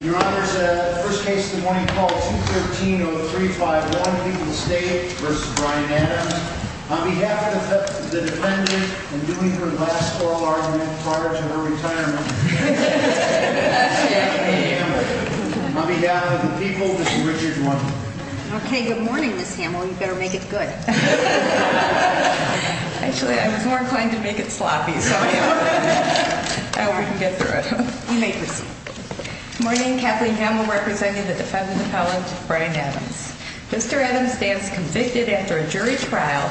Your Honor, the first case of the morning is called 213-0351, People's State v. Bryan Adams. On behalf of the defendant, and doing her last oral argument prior to her retirement, Ms. Amy Hamel. On behalf of the people, Ms. Richard Wood. Okay, good morning, Ms. Hamel. You better make it good. Actually, I was more inclined to make it sloppy, so I hope we can get through it. You may proceed. Good morning, Kathleen Hamel, representing the defendant appellant, Bryan Adams. Mr. Adams stands convicted after a jury trial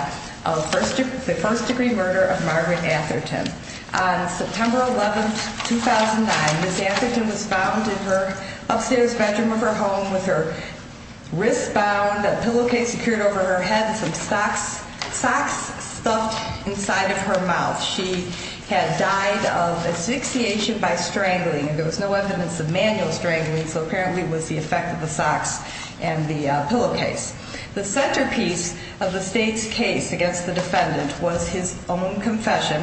of the first degree murder of Margaret Atherton. On September 11, 2009, Ms. Atherton was found in her upstairs bedroom of her home with her wrist bound, a pillowcase secured over her head, and some socks stuffed inside of her mouth. She had died of asphyxiation by strangling. There was no evidence of manual strangling, so apparently it was the effect of the socks and the pillowcase. The centerpiece of the state's case against the defendant was his own confession,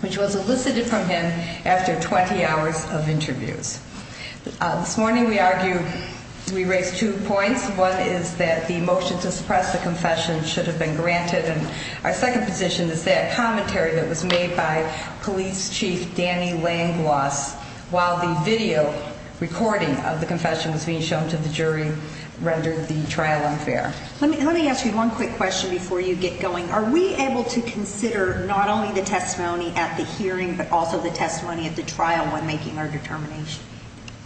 which was elicited from him after 20 hours of interviews. This morning we argued, we raised two points. One is that the motion to suppress the confession should have been granted, and our second position is that commentary that was made by Police Chief Danny Langloss while the video recording of the confession was being shown to the jury rendered the trial unfair. Let me ask you one quick question before you get going. Are we able to consider not only the testimony at the hearing, but also the testimony at the trial when making our determination?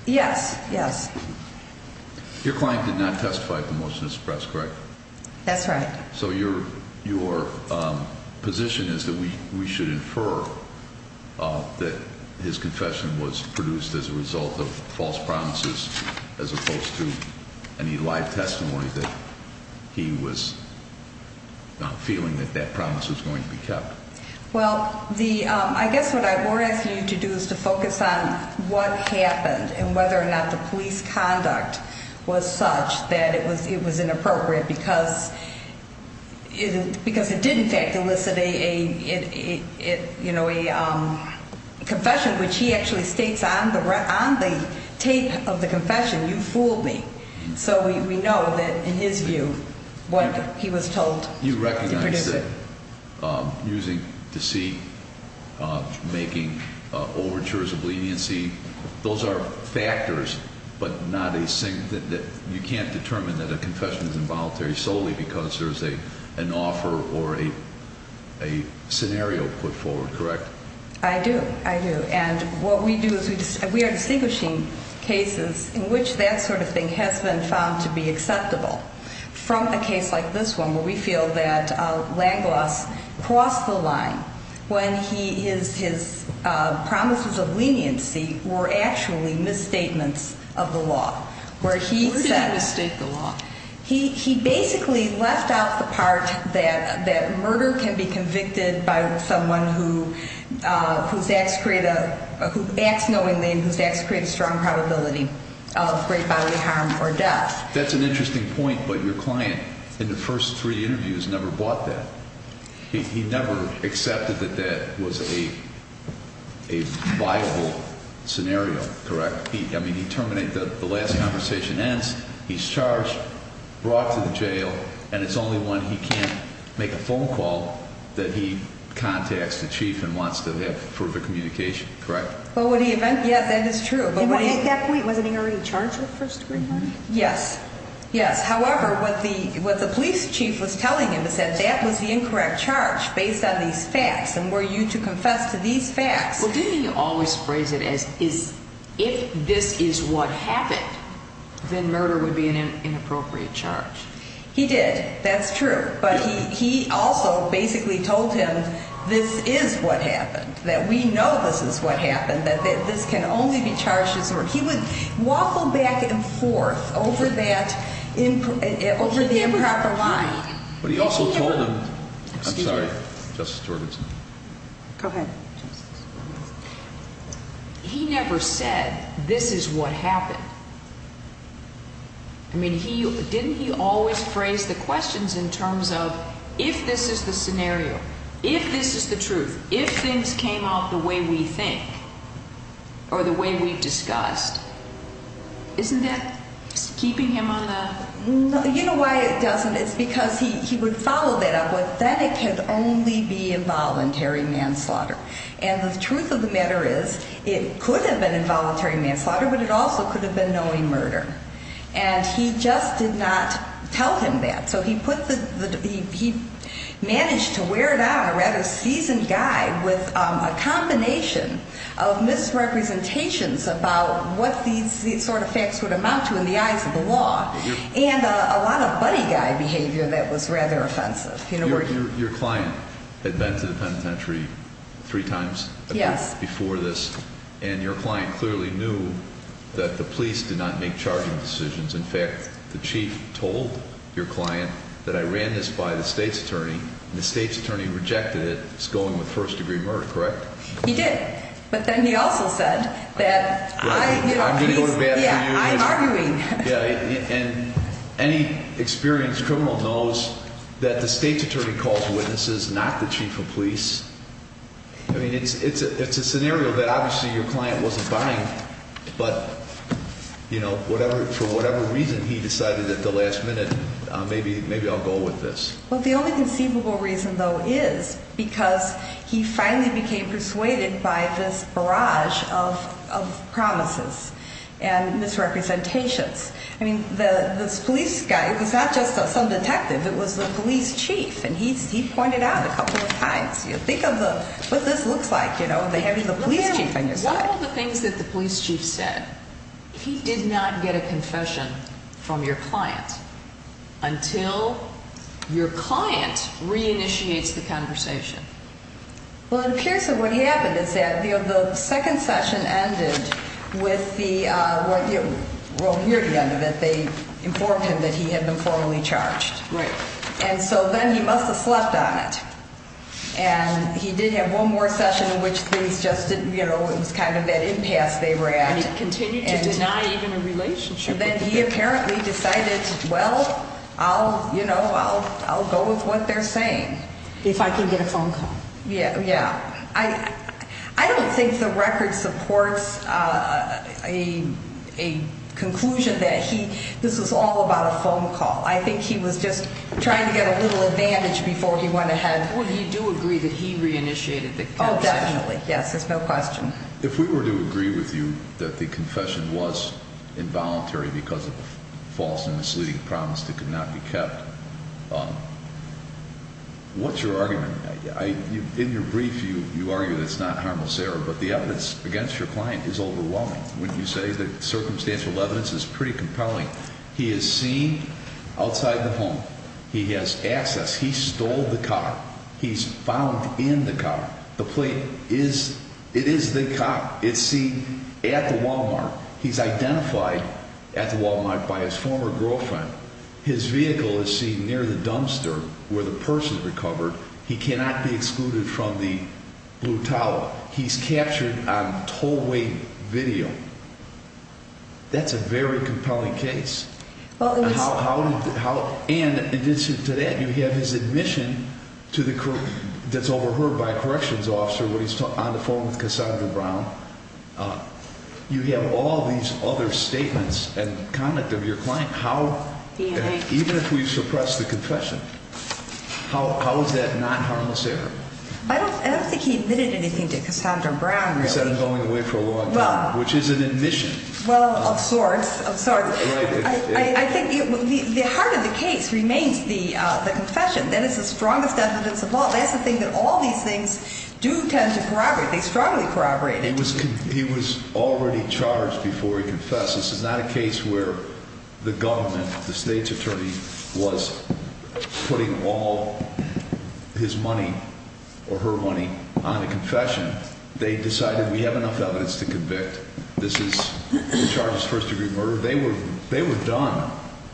Yes, yes. Your client did not testify at the motion to suppress, correct? That's right. So your position is that we should infer that his confession was produced as a result of false promises as opposed to any live testimony that he was feeling that that promise was going to be kept. Well, I guess what I would ask you to do is to focus on what happened and whether or not the police conduct was such that it was inappropriate because it did in fact elicit a confession, which he actually states on the tape of the confession, you fooled me. So we know that in his view, what he was told to produce it. You recognize that using deceit, making overtures of leniency, those are factors, but you can't determine that a confession is involuntary solely because there's an offer or a scenario put forward, correct? I do, I do. And what we do is we are distinguishing cases in which that sort of thing has been found to be acceptable from a case like this one where we feel that Langloss crossed the line when his promises of leniency were actually misstatements of the law. Where did he misstate the law? He basically left out the part that murder can be convicted by someone who acts knowingly and who's asked to create a strong probability of great bodily harm or death. That's an interesting point, but your client in the first three interviews never bought that. He never accepted that that was a viable scenario, correct? I mean, he terminated the last conversation, ends, he's charged, brought to the jail, and it's only when he can't make a phone call that he contacts the chief and wants to have further communication, correct? Yes, that is true. At that point, wasn't he already charged with first degree murder? Yes, yes. However, what the police chief was telling him is that that was the incorrect charge based on these facts and were you to confess to these facts. Well, didn't he always phrase it as if this is what happened, then murder would be an inappropriate charge? He did, that's true, but he also basically told him this is what happened, that we know this is what happened, that this can only be charged as murder. He would waffle back and forth over that improper line. But he also told him, I'm sorry, Justice Gorbachev. Go ahead. He never said this is what happened. I mean, didn't he always phrase the questions in terms of if this is the scenario, if this is the truth, if things came out the way we think or the way we discussed, isn't that keeping him on the? You know why it doesn't? It's because he would follow that up with then it can only be involuntary manslaughter. And the truth of the matter is it could have been involuntary manslaughter, but it also could have been knowing murder. And he just did not tell him that. So he managed to wear down a rather seasoned guy with a combination of misrepresentations about what these sort of facts would amount to in the eyes of the law and a lot of buddy guy behavior that was rather offensive. Your client had been to the penitentiary three times before this, and your client clearly knew that the police did not make charging decisions. In fact, the chief told your client that I ran this by the state's attorney, and the state's attorney rejected it. It's going with first-degree murder, correct? He did. But then he also said that, you know, he's arguing. And any experienced criminal knows that the state's attorney calls witnesses, not the chief of police. I mean, it's a scenario that obviously your client wasn't buying, but, you know, for whatever reason he decided at the last minute, maybe I'll go with this. Well, the only conceivable reason, though, is because he finally became persuaded by this barrage of promises and misrepresentations. I mean, this police guy, it was not just some detective. It was the police chief, and he pointed out a couple of times. Think of what this looks like, you know, having the police chief on your side. One of the things that the police chief said, he did not get a confession from your client until your client reinitiates the conversation. Well, it appears that what happened is that, you know, the second session ended with the, well, near the end of it, they informed him that he had been formally charged. Right. And so then he must have slept on it. And he did have one more session in which things just didn't, you know, it was kind of that impasse they were at. And he continued to deny even a relationship with the victim. Then he apparently decided, well, I'll, you know, I'll go with what they're saying. If I can get a phone call. Yeah, yeah. I don't think the record supports a conclusion that he, this was all about a phone call. I think he was just trying to get a little advantage before he went ahead. Or do you agree that he reinitiated the conversation? Oh, definitely. Yes, there's no question. If we were to agree with you that the confession was involuntary because of a false and misleading promise that could not be kept, what's your argument? In your brief, you argue that it's not harmless error, but the evidence against your client is overwhelming. When you say that circumstantial evidence is pretty compelling. He is seen outside the home. He has access. He stole the car. He's found in the car. The plate is, it is the car. It's seen at the Wal-Mart. He's identified at the Wal-Mart by his former girlfriend. His vehicle is seen near the dumpster where the person recovered. He cannot be excluded from the blue towel. He's captured on tollway video. That's a very compelling case. And in addition to that, you have his admission that's overheard by a corrections officer when he's on the phone with Cassandra Brown. You have all these other statements and conduct of your client. Even if we suppress the confession, how is that not harmless error? I don't think he admitted anything to Cassandra Brown, really. Which is an admission. Well, of sorts. I'm sorry. I think the heart of the case remains the confession. That is the strongest evidence of all. That's the thing that all these things do tend to corroborate. They strongly corroborate it. He was already charged before he confessed. This is not a case where the government, the state's attorney, was putting all his money or her money on a confession. They decided we have enough evidence to convict. This is the charge of first-degree murder. They were done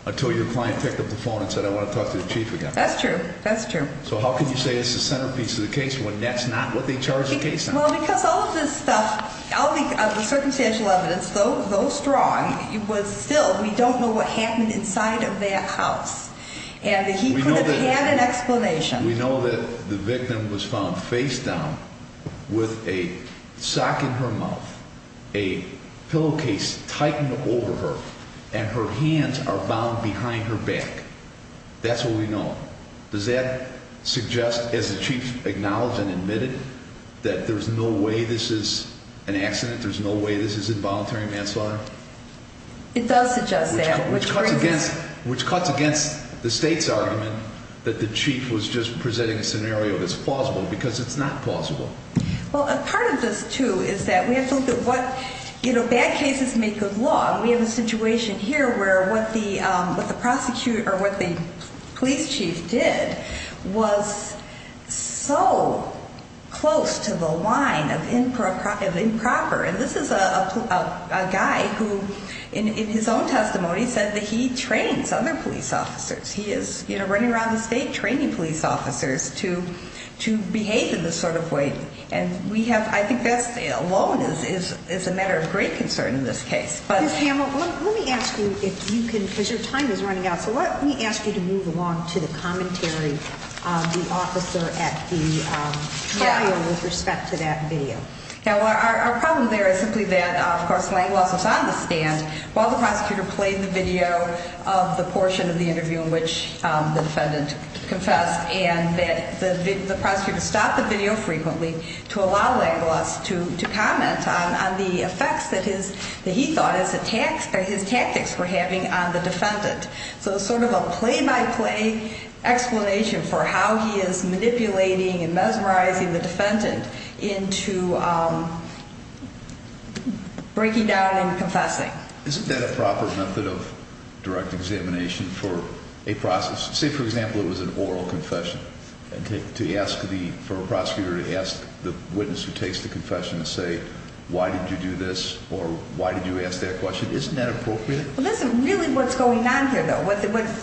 until your client picked up the phone and said, I want to talk to the chief again. That's true. So how can you say it's the centerpiece of the case when that's not what they charge the case under? Well, because all of this stuff, all the circumstantial evidence, though strong, was still, we don't know what happened inside of that house. And he could have had an explanation. We know that the victim was found face down with a sock in her mouth, a pillowcase tightened over her, and her hands are bound behind her back. That's what we know. Does that suggest, as the chief acknowledged and admitted, that there's no way this is an accident, there's no way this is involuntary manslaughter? It does suggest that. Which cuts against the state's argument that the chief was just presenting a scenario that's plausible, because it's not plausible. Well, part of this, too, is that we have to look at what bad cases make good law. We have a situation here where what the police chief did was so close to the line of improper. And this is a guy who, in his own testimony, said that he trains other police officers. He is running around the state training police officers to behave in this sort of way. And we have, I think that alone is a matter of great concern in this case. Ms. Hamel, let me ask you if you can, because your time is running out, so let me ask you to move along to the commentary of the officer at the trial with respect to that video. Now, our problem there is simply that, of course, Langlois was on the stand while the prosecutor played the video of the portion of the interview in which the defendant confessed, and that the prosecutor stopped the video frequently to allow Langlois to comment on the effects that he thought his tactics were having on the defendant. So it's sort of a play-by-play explanation for how he is manipulating and mesmerizing the defendant into breaking down and confessing. Isn't that a proper method of direct examination for a prosecutor? Say, for example, it was an oral confession for a prosecutor to ask the witness who takes the confession to say, why did you do this or why did you ask that question? Isn't that appropriate? Well, that's really what's going on here, though. What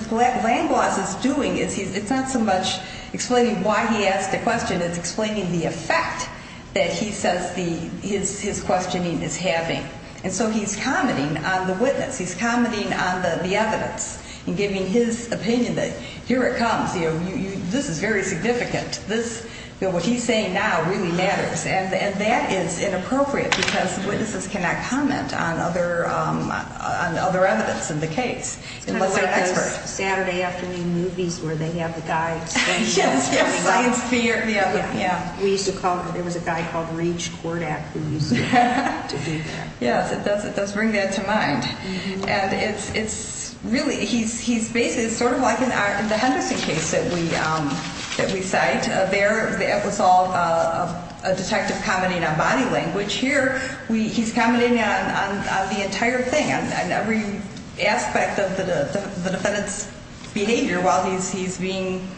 Langlois is doing, it's not so much explaining why he asked the question. It's explaining the effect that he says his questioning is having. And so he's commenting on the witness. He's commenting on the evidence and giving his opinion that here it comes. This is very significant. What he's saying now really matters. And that is inappropriate because witnesses cannot comment on other evidence in the case unless they're experts. It's kind of like those Saturday afternoon movies where they have the guy explaining science theory. We used to call him, there was a guy called Rage Kordak who used to be there. Yes, it does bring that to mind. And it's really, he's basically, it's sort of like in the Henderson case that we cite. There it was all a detective commenting on body language. Here he's commenting on the entire thing, on every aspect of the defendant's behavior while he's being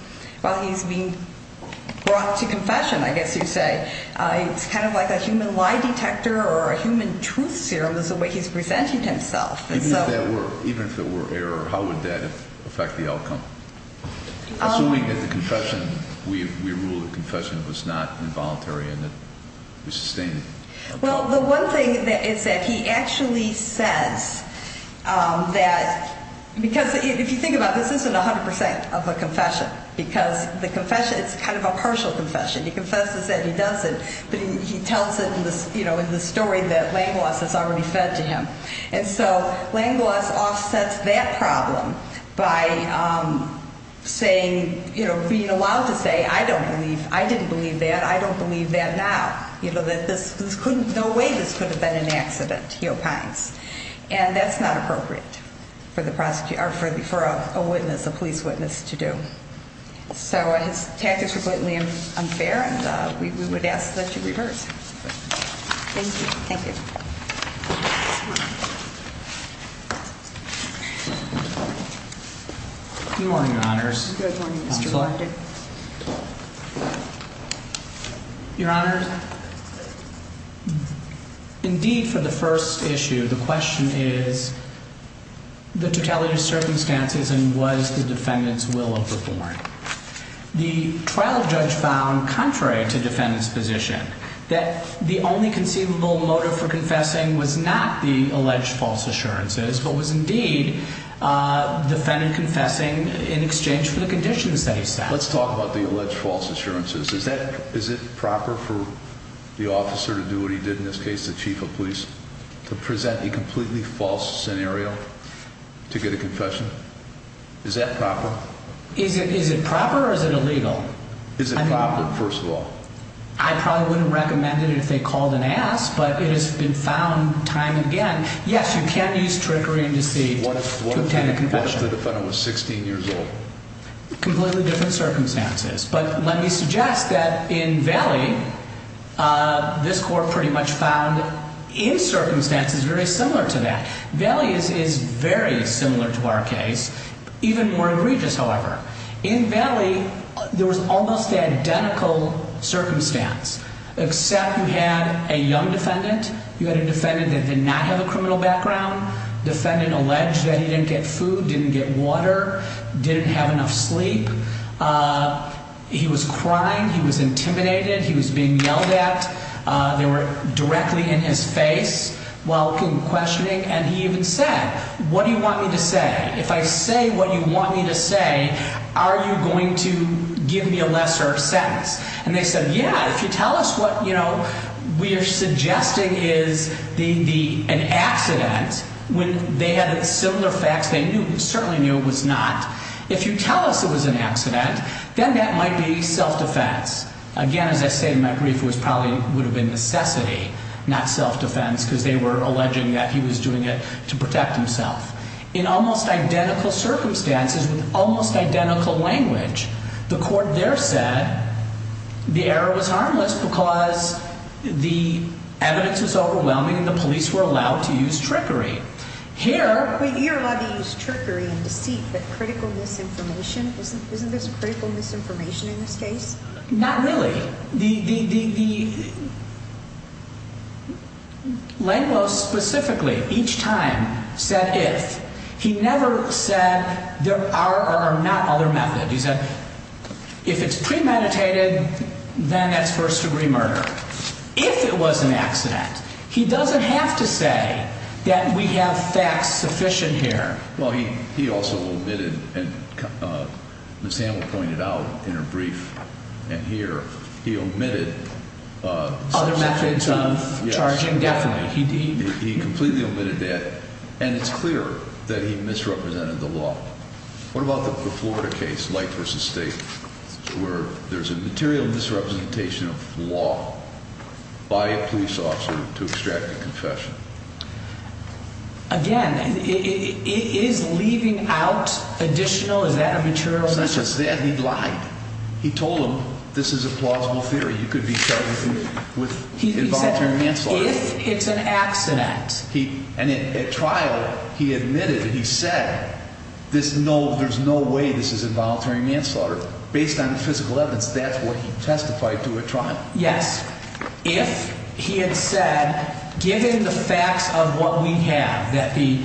brought to confession, I guess you'd say. It's kind of like a human lie detector or a human truth serum is the way he's presenting himself. Even if there were error, how would that affect the outcome? Assuming that the confession, we ruled the confession was not involuntary and that we sustained it. Well, the one thing is that he actually says that, because if you think about it, this isn't 100% of a confession. Because the confession, it's kind of a partial confession. He confesses and he does it, but he tells it in the story that Langlois has already fed to him. And so Langlois offsets that problem by saying, being allowed to say, I don't believe, I didn't believe that, I don't believe that now. That this couldn't, no way this could have been an accident, he opines. And that's not appropriate for a witness, a police witness to do. So his tactics were blatantly unfair and we would ask that you reverse. Thank you. Thank you. Good morning, Your Honors. Good morning, Mr. Ponder. Your Honor, indeed for the first issue, the question is the totality of circumstances and was the defendant's will overborne. The trial judge found, contrary to defendant's position, that the only conceivable motive for confessing was not the alleged false assurances, but was indeed defendant confessing in exchange for the conditions that he set. Let's talk about the alleged false assurances. Is it proper for the officer to do what he did, in this case the chief of police, to present a completely false scenario to get a confession? Is that proper? Is it proper or is it illegal? Is it proper, first of all? I probably wouldn't recommend it if they called and asked, but it has been found time and again. Yes, you can use trickery and deceit to obtain a confession. What if the defendant was 16 years old? Completely different circumstances. But let me suggest that in Valley, this court pretty much found in circumstances very similar to that. Valley is very similar to our case, even more egregious, however. In Valley, there was almost identical circumstance, except you had a young defendant. You had a defendant that did not have a criminal background. Defendant alleged that he didn't get food, didn't get water, didn't have enough sleep. He was crying. He was intimidated. He was being yelled at. They were directly in his face while questioning, and he even said, what do you want me to say? If I say what you want me to say, are you going to give me a lesser sentence? And they said, yeah, if you tell us what we are suggesting is an accident, when they had similar facts, they certainly knew it was not. If you tell us it was an accident, then that might be self-defense. Again, as I say in my brief, it probably would have been necessity, not self-defense, because they were alleging that he was doing it to protect himself. In almost identical circumstances, with almost identical language, the court there said the error was harmless because the evidence was overwhelming and the police were allowed to use trickery. You're allowed to use trickery and deceit, but critical misinformation? Isn't this critical misinformation in this case? Not really. The language specifically, each time, said if. He never said there are or are not other methods. He said if it's premeditated, then that's first-degree murder. If it was an accident, he doesn't have to say that we have facts sufficient here. Well, he also omitted, and Ms. Hamill pointed out in her brief and here, he omitted… Other methods of charging definitely. He completely omitted that, and it's clear that he misrepresented the law. What about the Florida case, Light v. State, where there's a material misrepresentation of law by a police officer to extract a confession? Again, is leaving out additional, is that a material misrepresentation? Since it's there, he lied. He told them this is a plausible theory. You could be charged with involuntary manslaughter. He said if it's an accident. And at trial, he admitted and he said there's no way this is involuntary manslaughter. Based on the physical evidence, that's what he testified to at trial. Yes. If he had said, given the facts of what we have, that the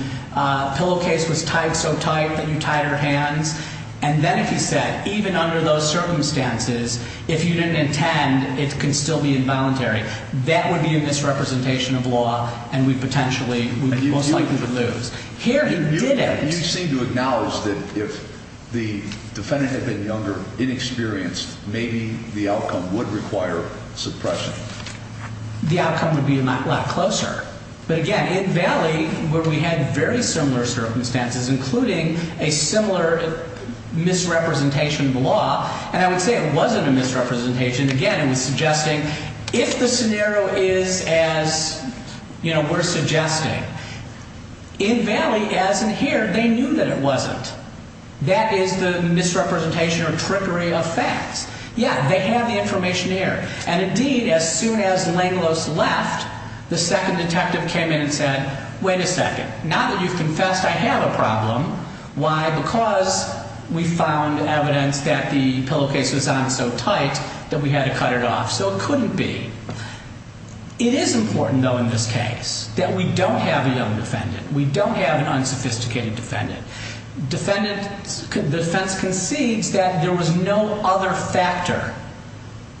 pillowcase was tied so tight that you tied our hands, and then if he said, even under those circumstances, if you didn't intend, it can still be involuntary, that would be a misrepresentation of law, and we potentially would be most likely to lose. Here, he didn't. You seem to acknowledge that if the defendant had been younger, inexperienced, maybe the outcome would require suppression. The outcome would be a lot closer. But, again, in Valley, where we had very similar circumstances, including a similar misrepresentation of the law, and I would say it wasn't a misrepresentation. Again, it was suggesting if the scenario is as we're suggesting, in Valley, as in here, they knew that it wasn't. That is the misrepresentation or trickery of facts. Yeah, they have the information here. And, indeed, as soon as Langlos left, the second detective came in and said, wait a second. Now that you've confessed, I have a problem. Why? Because we found evidence that the pillowcase was on so tight that we had to cut it off. So it couldn't be. It is important, though, in this case, that we don't have a young defendant. We don't have an unsophisticated defendant. Defendant, the defense concedes that there was no other factor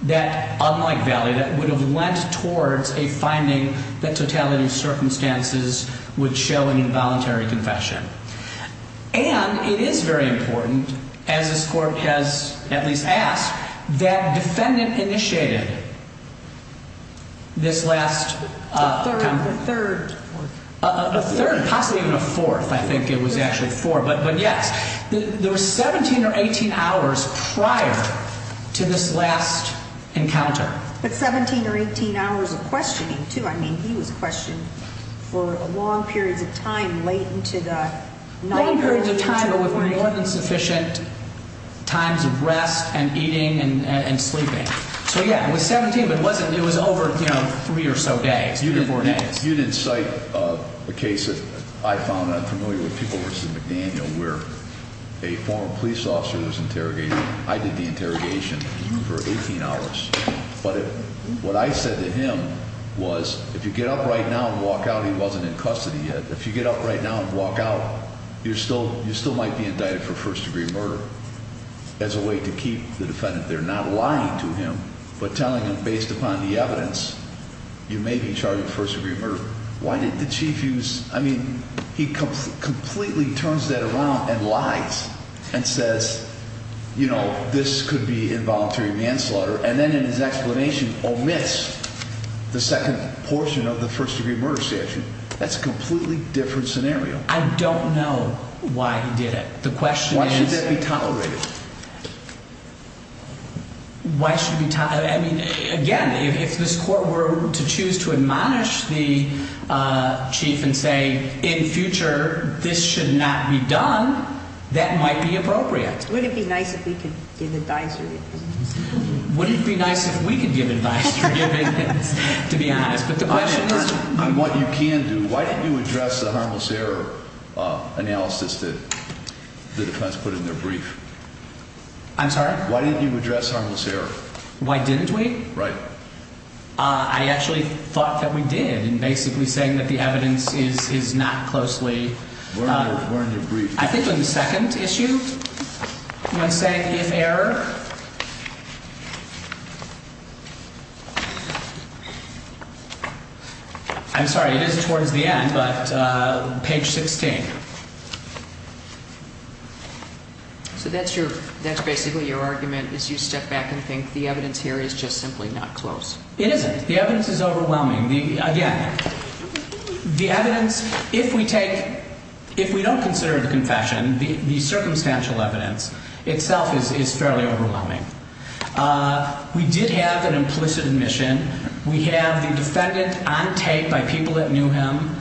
that, unlike Valley, that would have lent towards a finding that totality of circumstances would show an involuntary confession. And it is very important, as this Court has at least asked, that defendant initiated this last... A third. A third, possibly even a fourth. I think it was actually four. But, yes, there were 17 or 18 hours prior to this last encounter. But 17 or 18 hours of questioning, too. I mean, he was questioned for long periods of time late into the night. Long periods of time, but with more than sufficient times of rest and eating and sleeping. So, yes, it was 17, but it was over three or so days, three or four days. You didn't cite a case that I found, and I'm familiar with, people versus McDaniel, where a former police officer was interrogated. I did the interrogation for 18 hours. But what I said to him was, if you get up right now and walk out, he wasn't in custody yet. If you get up right now and walk out, you still might be indicted for first-degree murder as a way to keep the defendant there. Not lying to him, but telling him, based upon the evidence, you may be charged with first-degree murder. Why did the chief use... I mean, he completely turns that around and lies and says, you know, this could be involuntary manslaughter. And then in his explanation, omits the second portion of the first-degree murder statute. That's a completely different scenario. I don't know why he did it. The question is... Why should that be tolerated? Why should it be tolerated? I mean, again, if this court were to choose to admonish the chief and say, in future, this should not be done, that might be appropriate. Would it be nice if we could give advice to the defendants? Would it be nice if we could give advice to the defendants, to be honest? But the question is... On what you can do, why didn't you address the harmless error analysis that the defense put in their brief? I'm sorry? Why didn't you address harmless error? Why didn't we? Right. I actually thought that we did in basically saying that the evidence is not closely... Where in your brief? I think on the second issue, when saying if error... I'm sorry. It is towards the end, but page 16. So that's basically your argument, is you step back and think the evidence here is just simply not close. It isn't. The evidence is overwhelming. Again, the evidence, if we take... If we don't consider the confession, the circumstantial evidence itself is fairly overwhelming. We did have an implicit admission. We have the defendant on tape by people that knew him,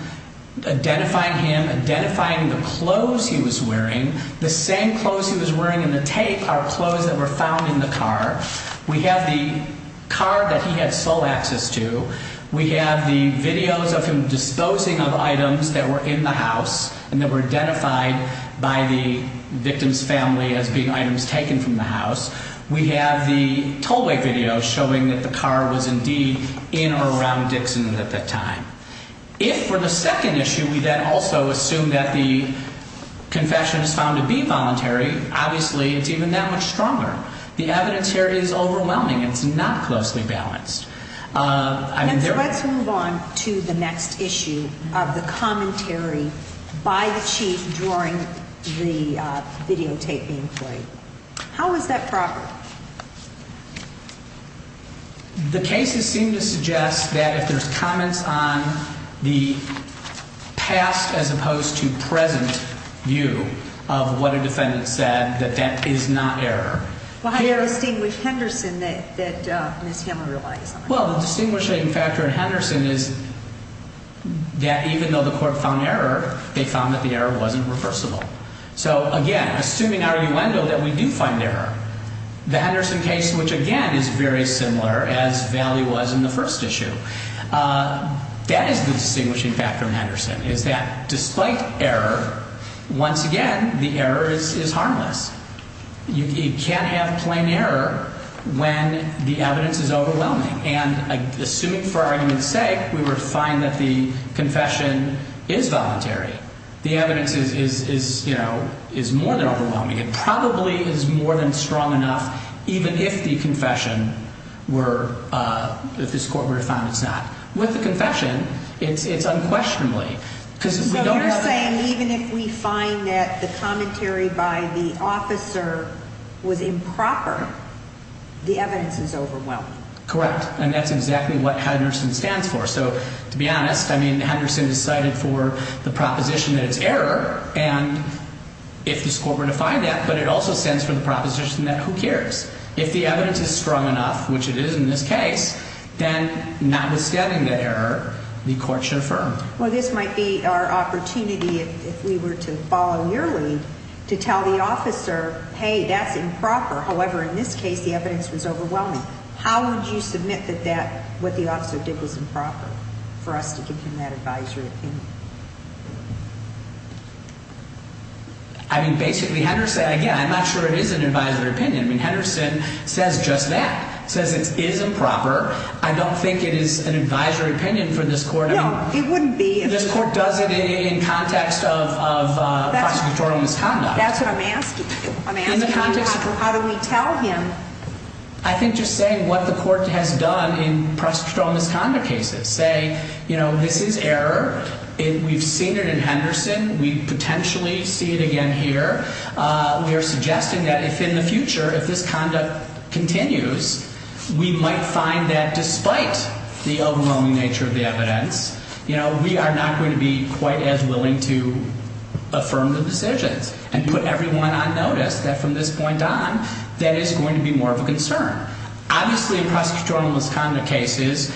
identifying him, identifying the clothes he was wearing. The same clothes he was wearing in the tape are clothes that were found in the car. We have the car that he had sole access to. We have the videos of him disposing of items that were in the house and that were identified by the victim's family as being items taken from the house. We have the tollway video showing that the car was indeed in or around Dixon at that time. If for the second issue we then also assume that the confession is found to be voluntary, obviously it's even that much stronger. The evidence here is overwhelming. It's not closely balanced. Let's move on to the next issue of the commentary by the chief during the videotape being played. How is that proper? The cases seem to suggest that if there's comments on the past as opposed to present view of what a defendant said, that that is not error. Well, how do you distinguish Henderson that Ms. Hammer relies on? Well, the distinguishing factor in Henderson is that even though the court found error, they found that the error wasn't reversible. So, again, assuming our innuendo that we do find error, the Henderson case, which again is very similar as Valley was in the first issue, that is the distinguishing factor in Henderson is that despite error, once again, the error is harmless. You can't have plain error when the evidence is overwhelming. And assuming for argument's sake we were to find that the confession is voluntary, the evidence is, you know, is more than overwhelming. It probably is more than strong enough even if the confession were, if this court were to find it's not. With the confession, it's unquestionably. So you're saying even if we find that the commentary by the officer was improper, the evidence is overwhelming. Correct. And that's exactly what Henderson stands for. So, to be honest, I mean, Henderson decided for the proposition that it's error. And if this court were to find that, but it also stands for the proposition that who cares. If the evidence is strong enough, which it is in this case, then notwithstanding the error, the court should affirm. Well, this might be our opportunity, if we were to follow your lead, to tell the officer, hey, that's improper. However, in this case, the evidence was overwhelming. How would you submit that that, what the officer did was improper for us to give him that advisory opinion? I mean, basically, Henderson, again, I'm not sure it is an advisory opinion. I mean, Henderson says just that, says it is improper. I don't think it is an advisory opinion for this court. No, it wouldn't be. This court does it in context of prosecutorial misconduct. That's what I'm asking. I'm asking how do we tell him? I think just saying what the court has done in prosecutorial misconduct cases. Say, you know, this is error. We've seen it in Henderson. We potentially see it again here. We are suggesting that if in the future, if this conduct continues, we might find that despite the overwhelming nature of the evidence, you know, we are not going to be quite as willing to affirm the decisions and put everyone on notice that from this point on, that is going to be more of a concern. Obviously, in prosecutorial misconduct cases,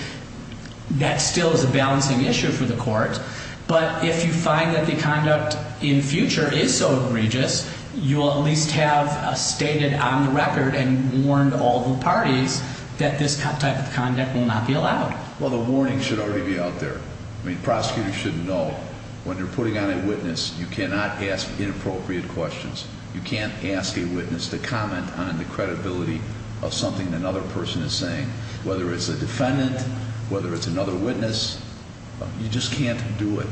that still is a balancing issue for the court. But if you find that the conduct in future is so egregious, you will at least have stated on the record and warned all the parties that this type of conduct will not be allowed. Well, the warning should already be out there. I mean, prosecutors should know when you're putting on a witness, you cannot ask inappropriate questions. You can't ask a witness to comment on the credibility of something another person is saying, whether it's a defendant, whether it's another witness. You just can't do it.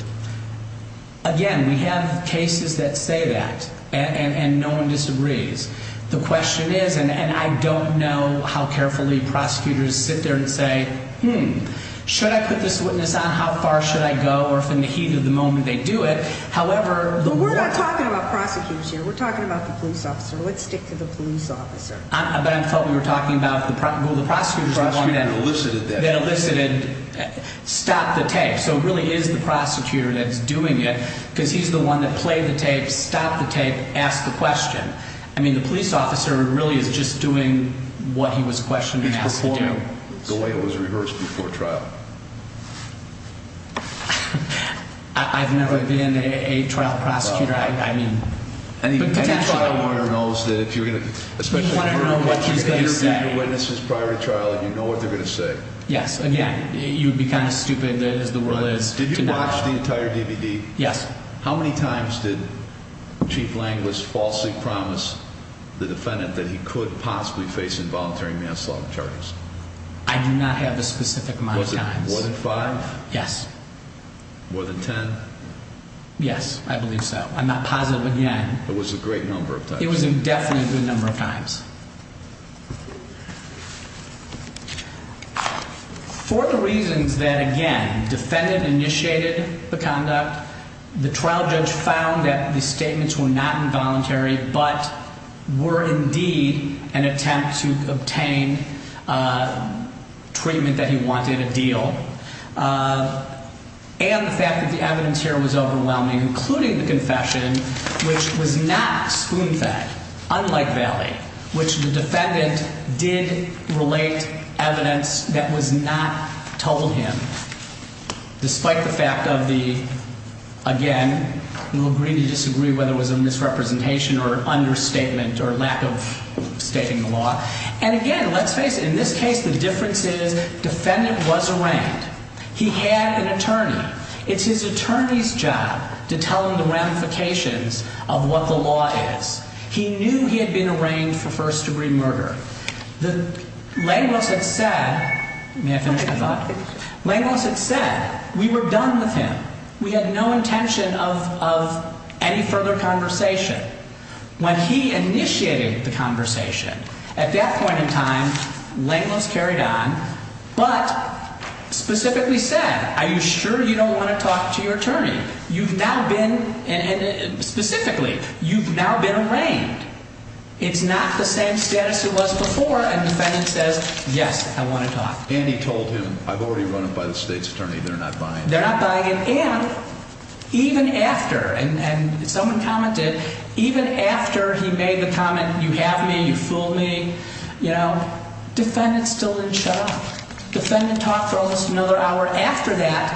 Again, we have cases that say that, and no one disagrees. The question is, and I don't know how carefully prosecutors sit there and say, hmm, should I put this witness on? How far should I go? Or if in the heat of the moment, they do it. However, we're not talking about prosecutors here. We're talking about the police officer. Let's stick to the police officer. But I felt we were talking about the prosecutor that elicited stop the tape. So it really is the prosecutor that's doing it, because he's the one that played the tape, stopped the tape, asked the question. I mean, the police officer really is just doing what he was questioned and asked to do. He's performing the way it was rehearsed before trial. I've never been a trial prosecutor. Any trial lawyer knows that if you're going to interview your witnesses prior to trial, you know what they're going to say. Yes. Again, you would be kind of stupid as the world is. Did you watch the entire DVD? Yes. How many times did Chief Langless falsely promise the defendant that he could possibly face involuntary manslaughter charges? I do not have a specific amount of times. More than five? Yes. More than ten? Yes, I believe so. I'm not positive again. It was a great number of times. It was definitely a good number of times. For the reasons that, again, defendant initiated the conduct, the trial judge found that the statements were not involuntary, but were indeed an attempt to obtain treatment that he wanted, a deal. And the fact that the evidence here was overwhelming, including the confession, which was not spoon-fed, unlike Valley, which the defendant did relate evidence that was not told him, despite the fact of the, again, we'll agree to disagree whether it was a misrepresentation or an understatement or lack of stating the law. And again, let's face it, in this case the difference is defendant was arraigned. He had an attorney. It's his attorney's job to tell him the ramifications of what the law is. He knew he had been arraigned for first-degree murder. Langless had said, may I finish my thought? Langless had said, we were done with him. We had no intention of any further conversation. When he initiated the conversation, at that point in time, Langless carried on, but specifically said, are you sure you don't want to talk to your attorney? You've now been, specifically, you've now been arraigned. It's not the same status it was before, and defendant says, yes, I want to talk. And he told him, I've already run it by the state's attorney, they're not buying it. And even after, and someone commented, even after he made the comment, you have me, you fooled me, defendant still didn't shut up. Defendant talked for almost another hour after that,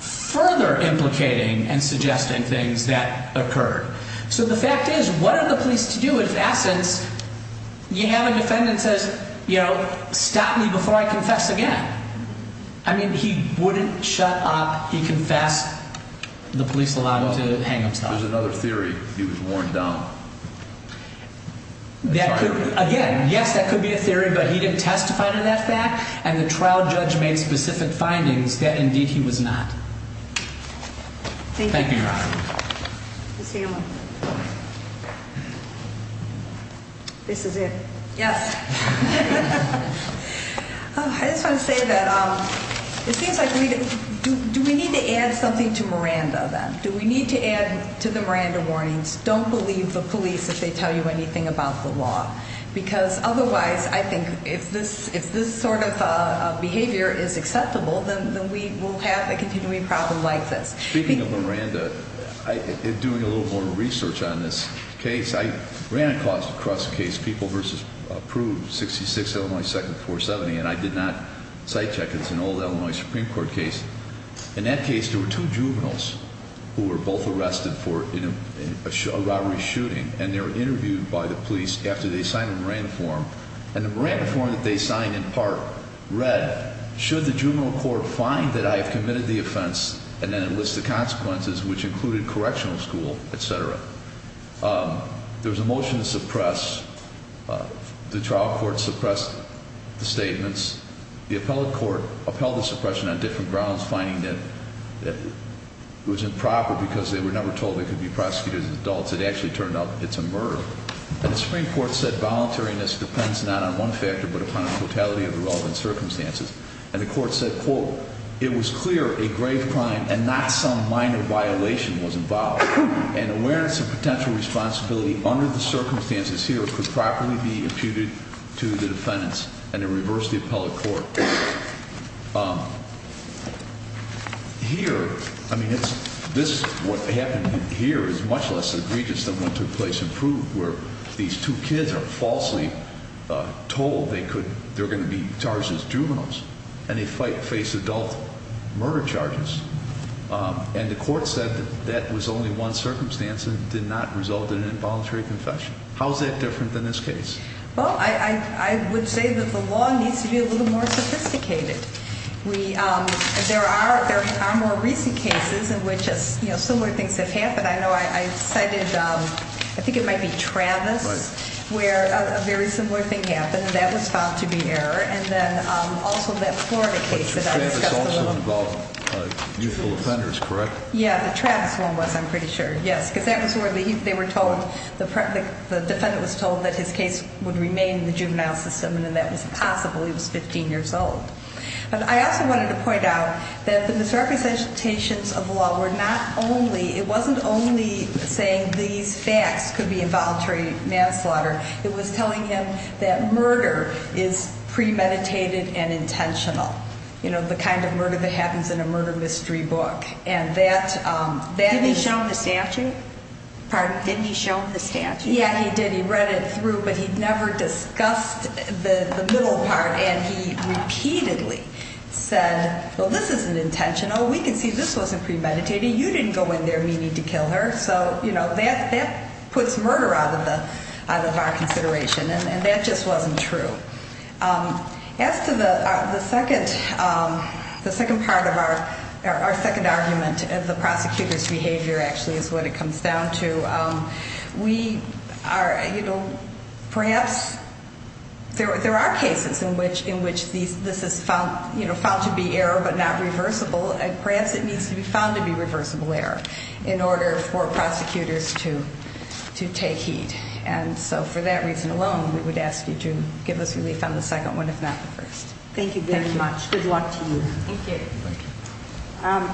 further implicating and suggesting things that occurred. So the fact is, what are the police to do? In essence, you have a defendant that says, stop me before I confess again. I mean, he wouldn't shut up, he confessed, the police allowed him to hang himself. There's another theory, he was worn down. Again, yes, that could be a theory, but he didn't testify to that fact, and the trial judge made specific findings that, indeed, he was not. Thank you, Your Honor. Ms. Hanlon. This is it. Yes. I just want to say that it seems like do we need to add something to Miranda then? Do we need to add to the Miranda warnings, don't believe the police if they tell you anything about the law? Because otherwise, I think if this sort of behavior is acceptable, then we will have a continuing problem like this. Speaking of Miranda, in doing a little more research on this case, I ran across a case, People v. Approved, 66 Illinois 2nd 470, and I did not sight check. It's an old Illinois Supreme Court case. In that case, there were two juveniles who were both arrested for a robbery shooting, and they were interviewed by the police after they signed a Miranda form. And the Miranda form that they signed, in part, read, should the juvenile court find that I have committed the offense and then enlist the consequences, which included correctional school, et cetera. There was a motion to suppress. The trial court suppressed the statements. The appellate court upheld the suppression on different grounds, finding that it was improper because they were never told they could be prosecuted as adults. It actually turned out it's a murder. And the Supreme Court said voluntariness depends not on one factor, but upon the totality of the relevant circumstances. And the court said, quote, it was clear a grave crime and not some minor violation was involved, and awareness of potential responsibility under the circumstances here could properly be imputed to the defendants and to reverse the appellate court. Here, I mean, this is what happened here is much less egregious than what took place in Approved, where these two kids are falsely told they're going to be charged as juveniles, and they face adult murder charges. And the court said that that was only one circumstance and did not result in an involuntary confession. How is that different than this case? Well, I would say that the law needs to be a little more sophisticated. There are more recent cases in which similar things have happened. I know I cited, I think it might be Travis, where a very similar thing happened, and that was found to be error, and then also that Florida case that I discussed. But Travis also involved youthful offenders, correct? Yeah, the Travis one was, I'm pretty sure. Yes, because that was where they were told, the defendant was told that his case would remain in the juvenile system, and that was impossible. He was 15 years old. But I also wanted to point out that the misrepresentations of the law were not only, it wasn't only saying these facts could be involuntary manslaughter. It was telling him that murder is premeditated and intentional, you know, the kind of murder that happens in a murder mystery book. And that is... Didn't he show him the statute? Pardon? Didn't he show him the statute? Yeah, he did. He read it through, but he never discussed the middle part, and he repeatedly said, well, this isn't intentional. We can see this wasn't premeditated. You didn't go in there meaning to kill her. So, you know, that puts murder out of our consideration, and that just wasn't true. As to the second part of our second argument, the prosecutor's behavior actually is what it comes down to, we are, you know, perhaps there are cases in which this is found to be error but not reversible, and perhaps it needs to be found to be reversible error in order for prosecutors to take heed. And so for that reason alone, we would ask you to give us relief on the second one, if not the first. Thank you very much. Good luck to you. Thank you.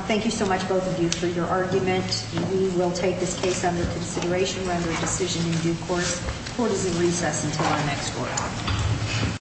Thank you so much, both of you, for your argument. We will take this case under consideration, render a decision in due course. Court is in recess until the next court hour.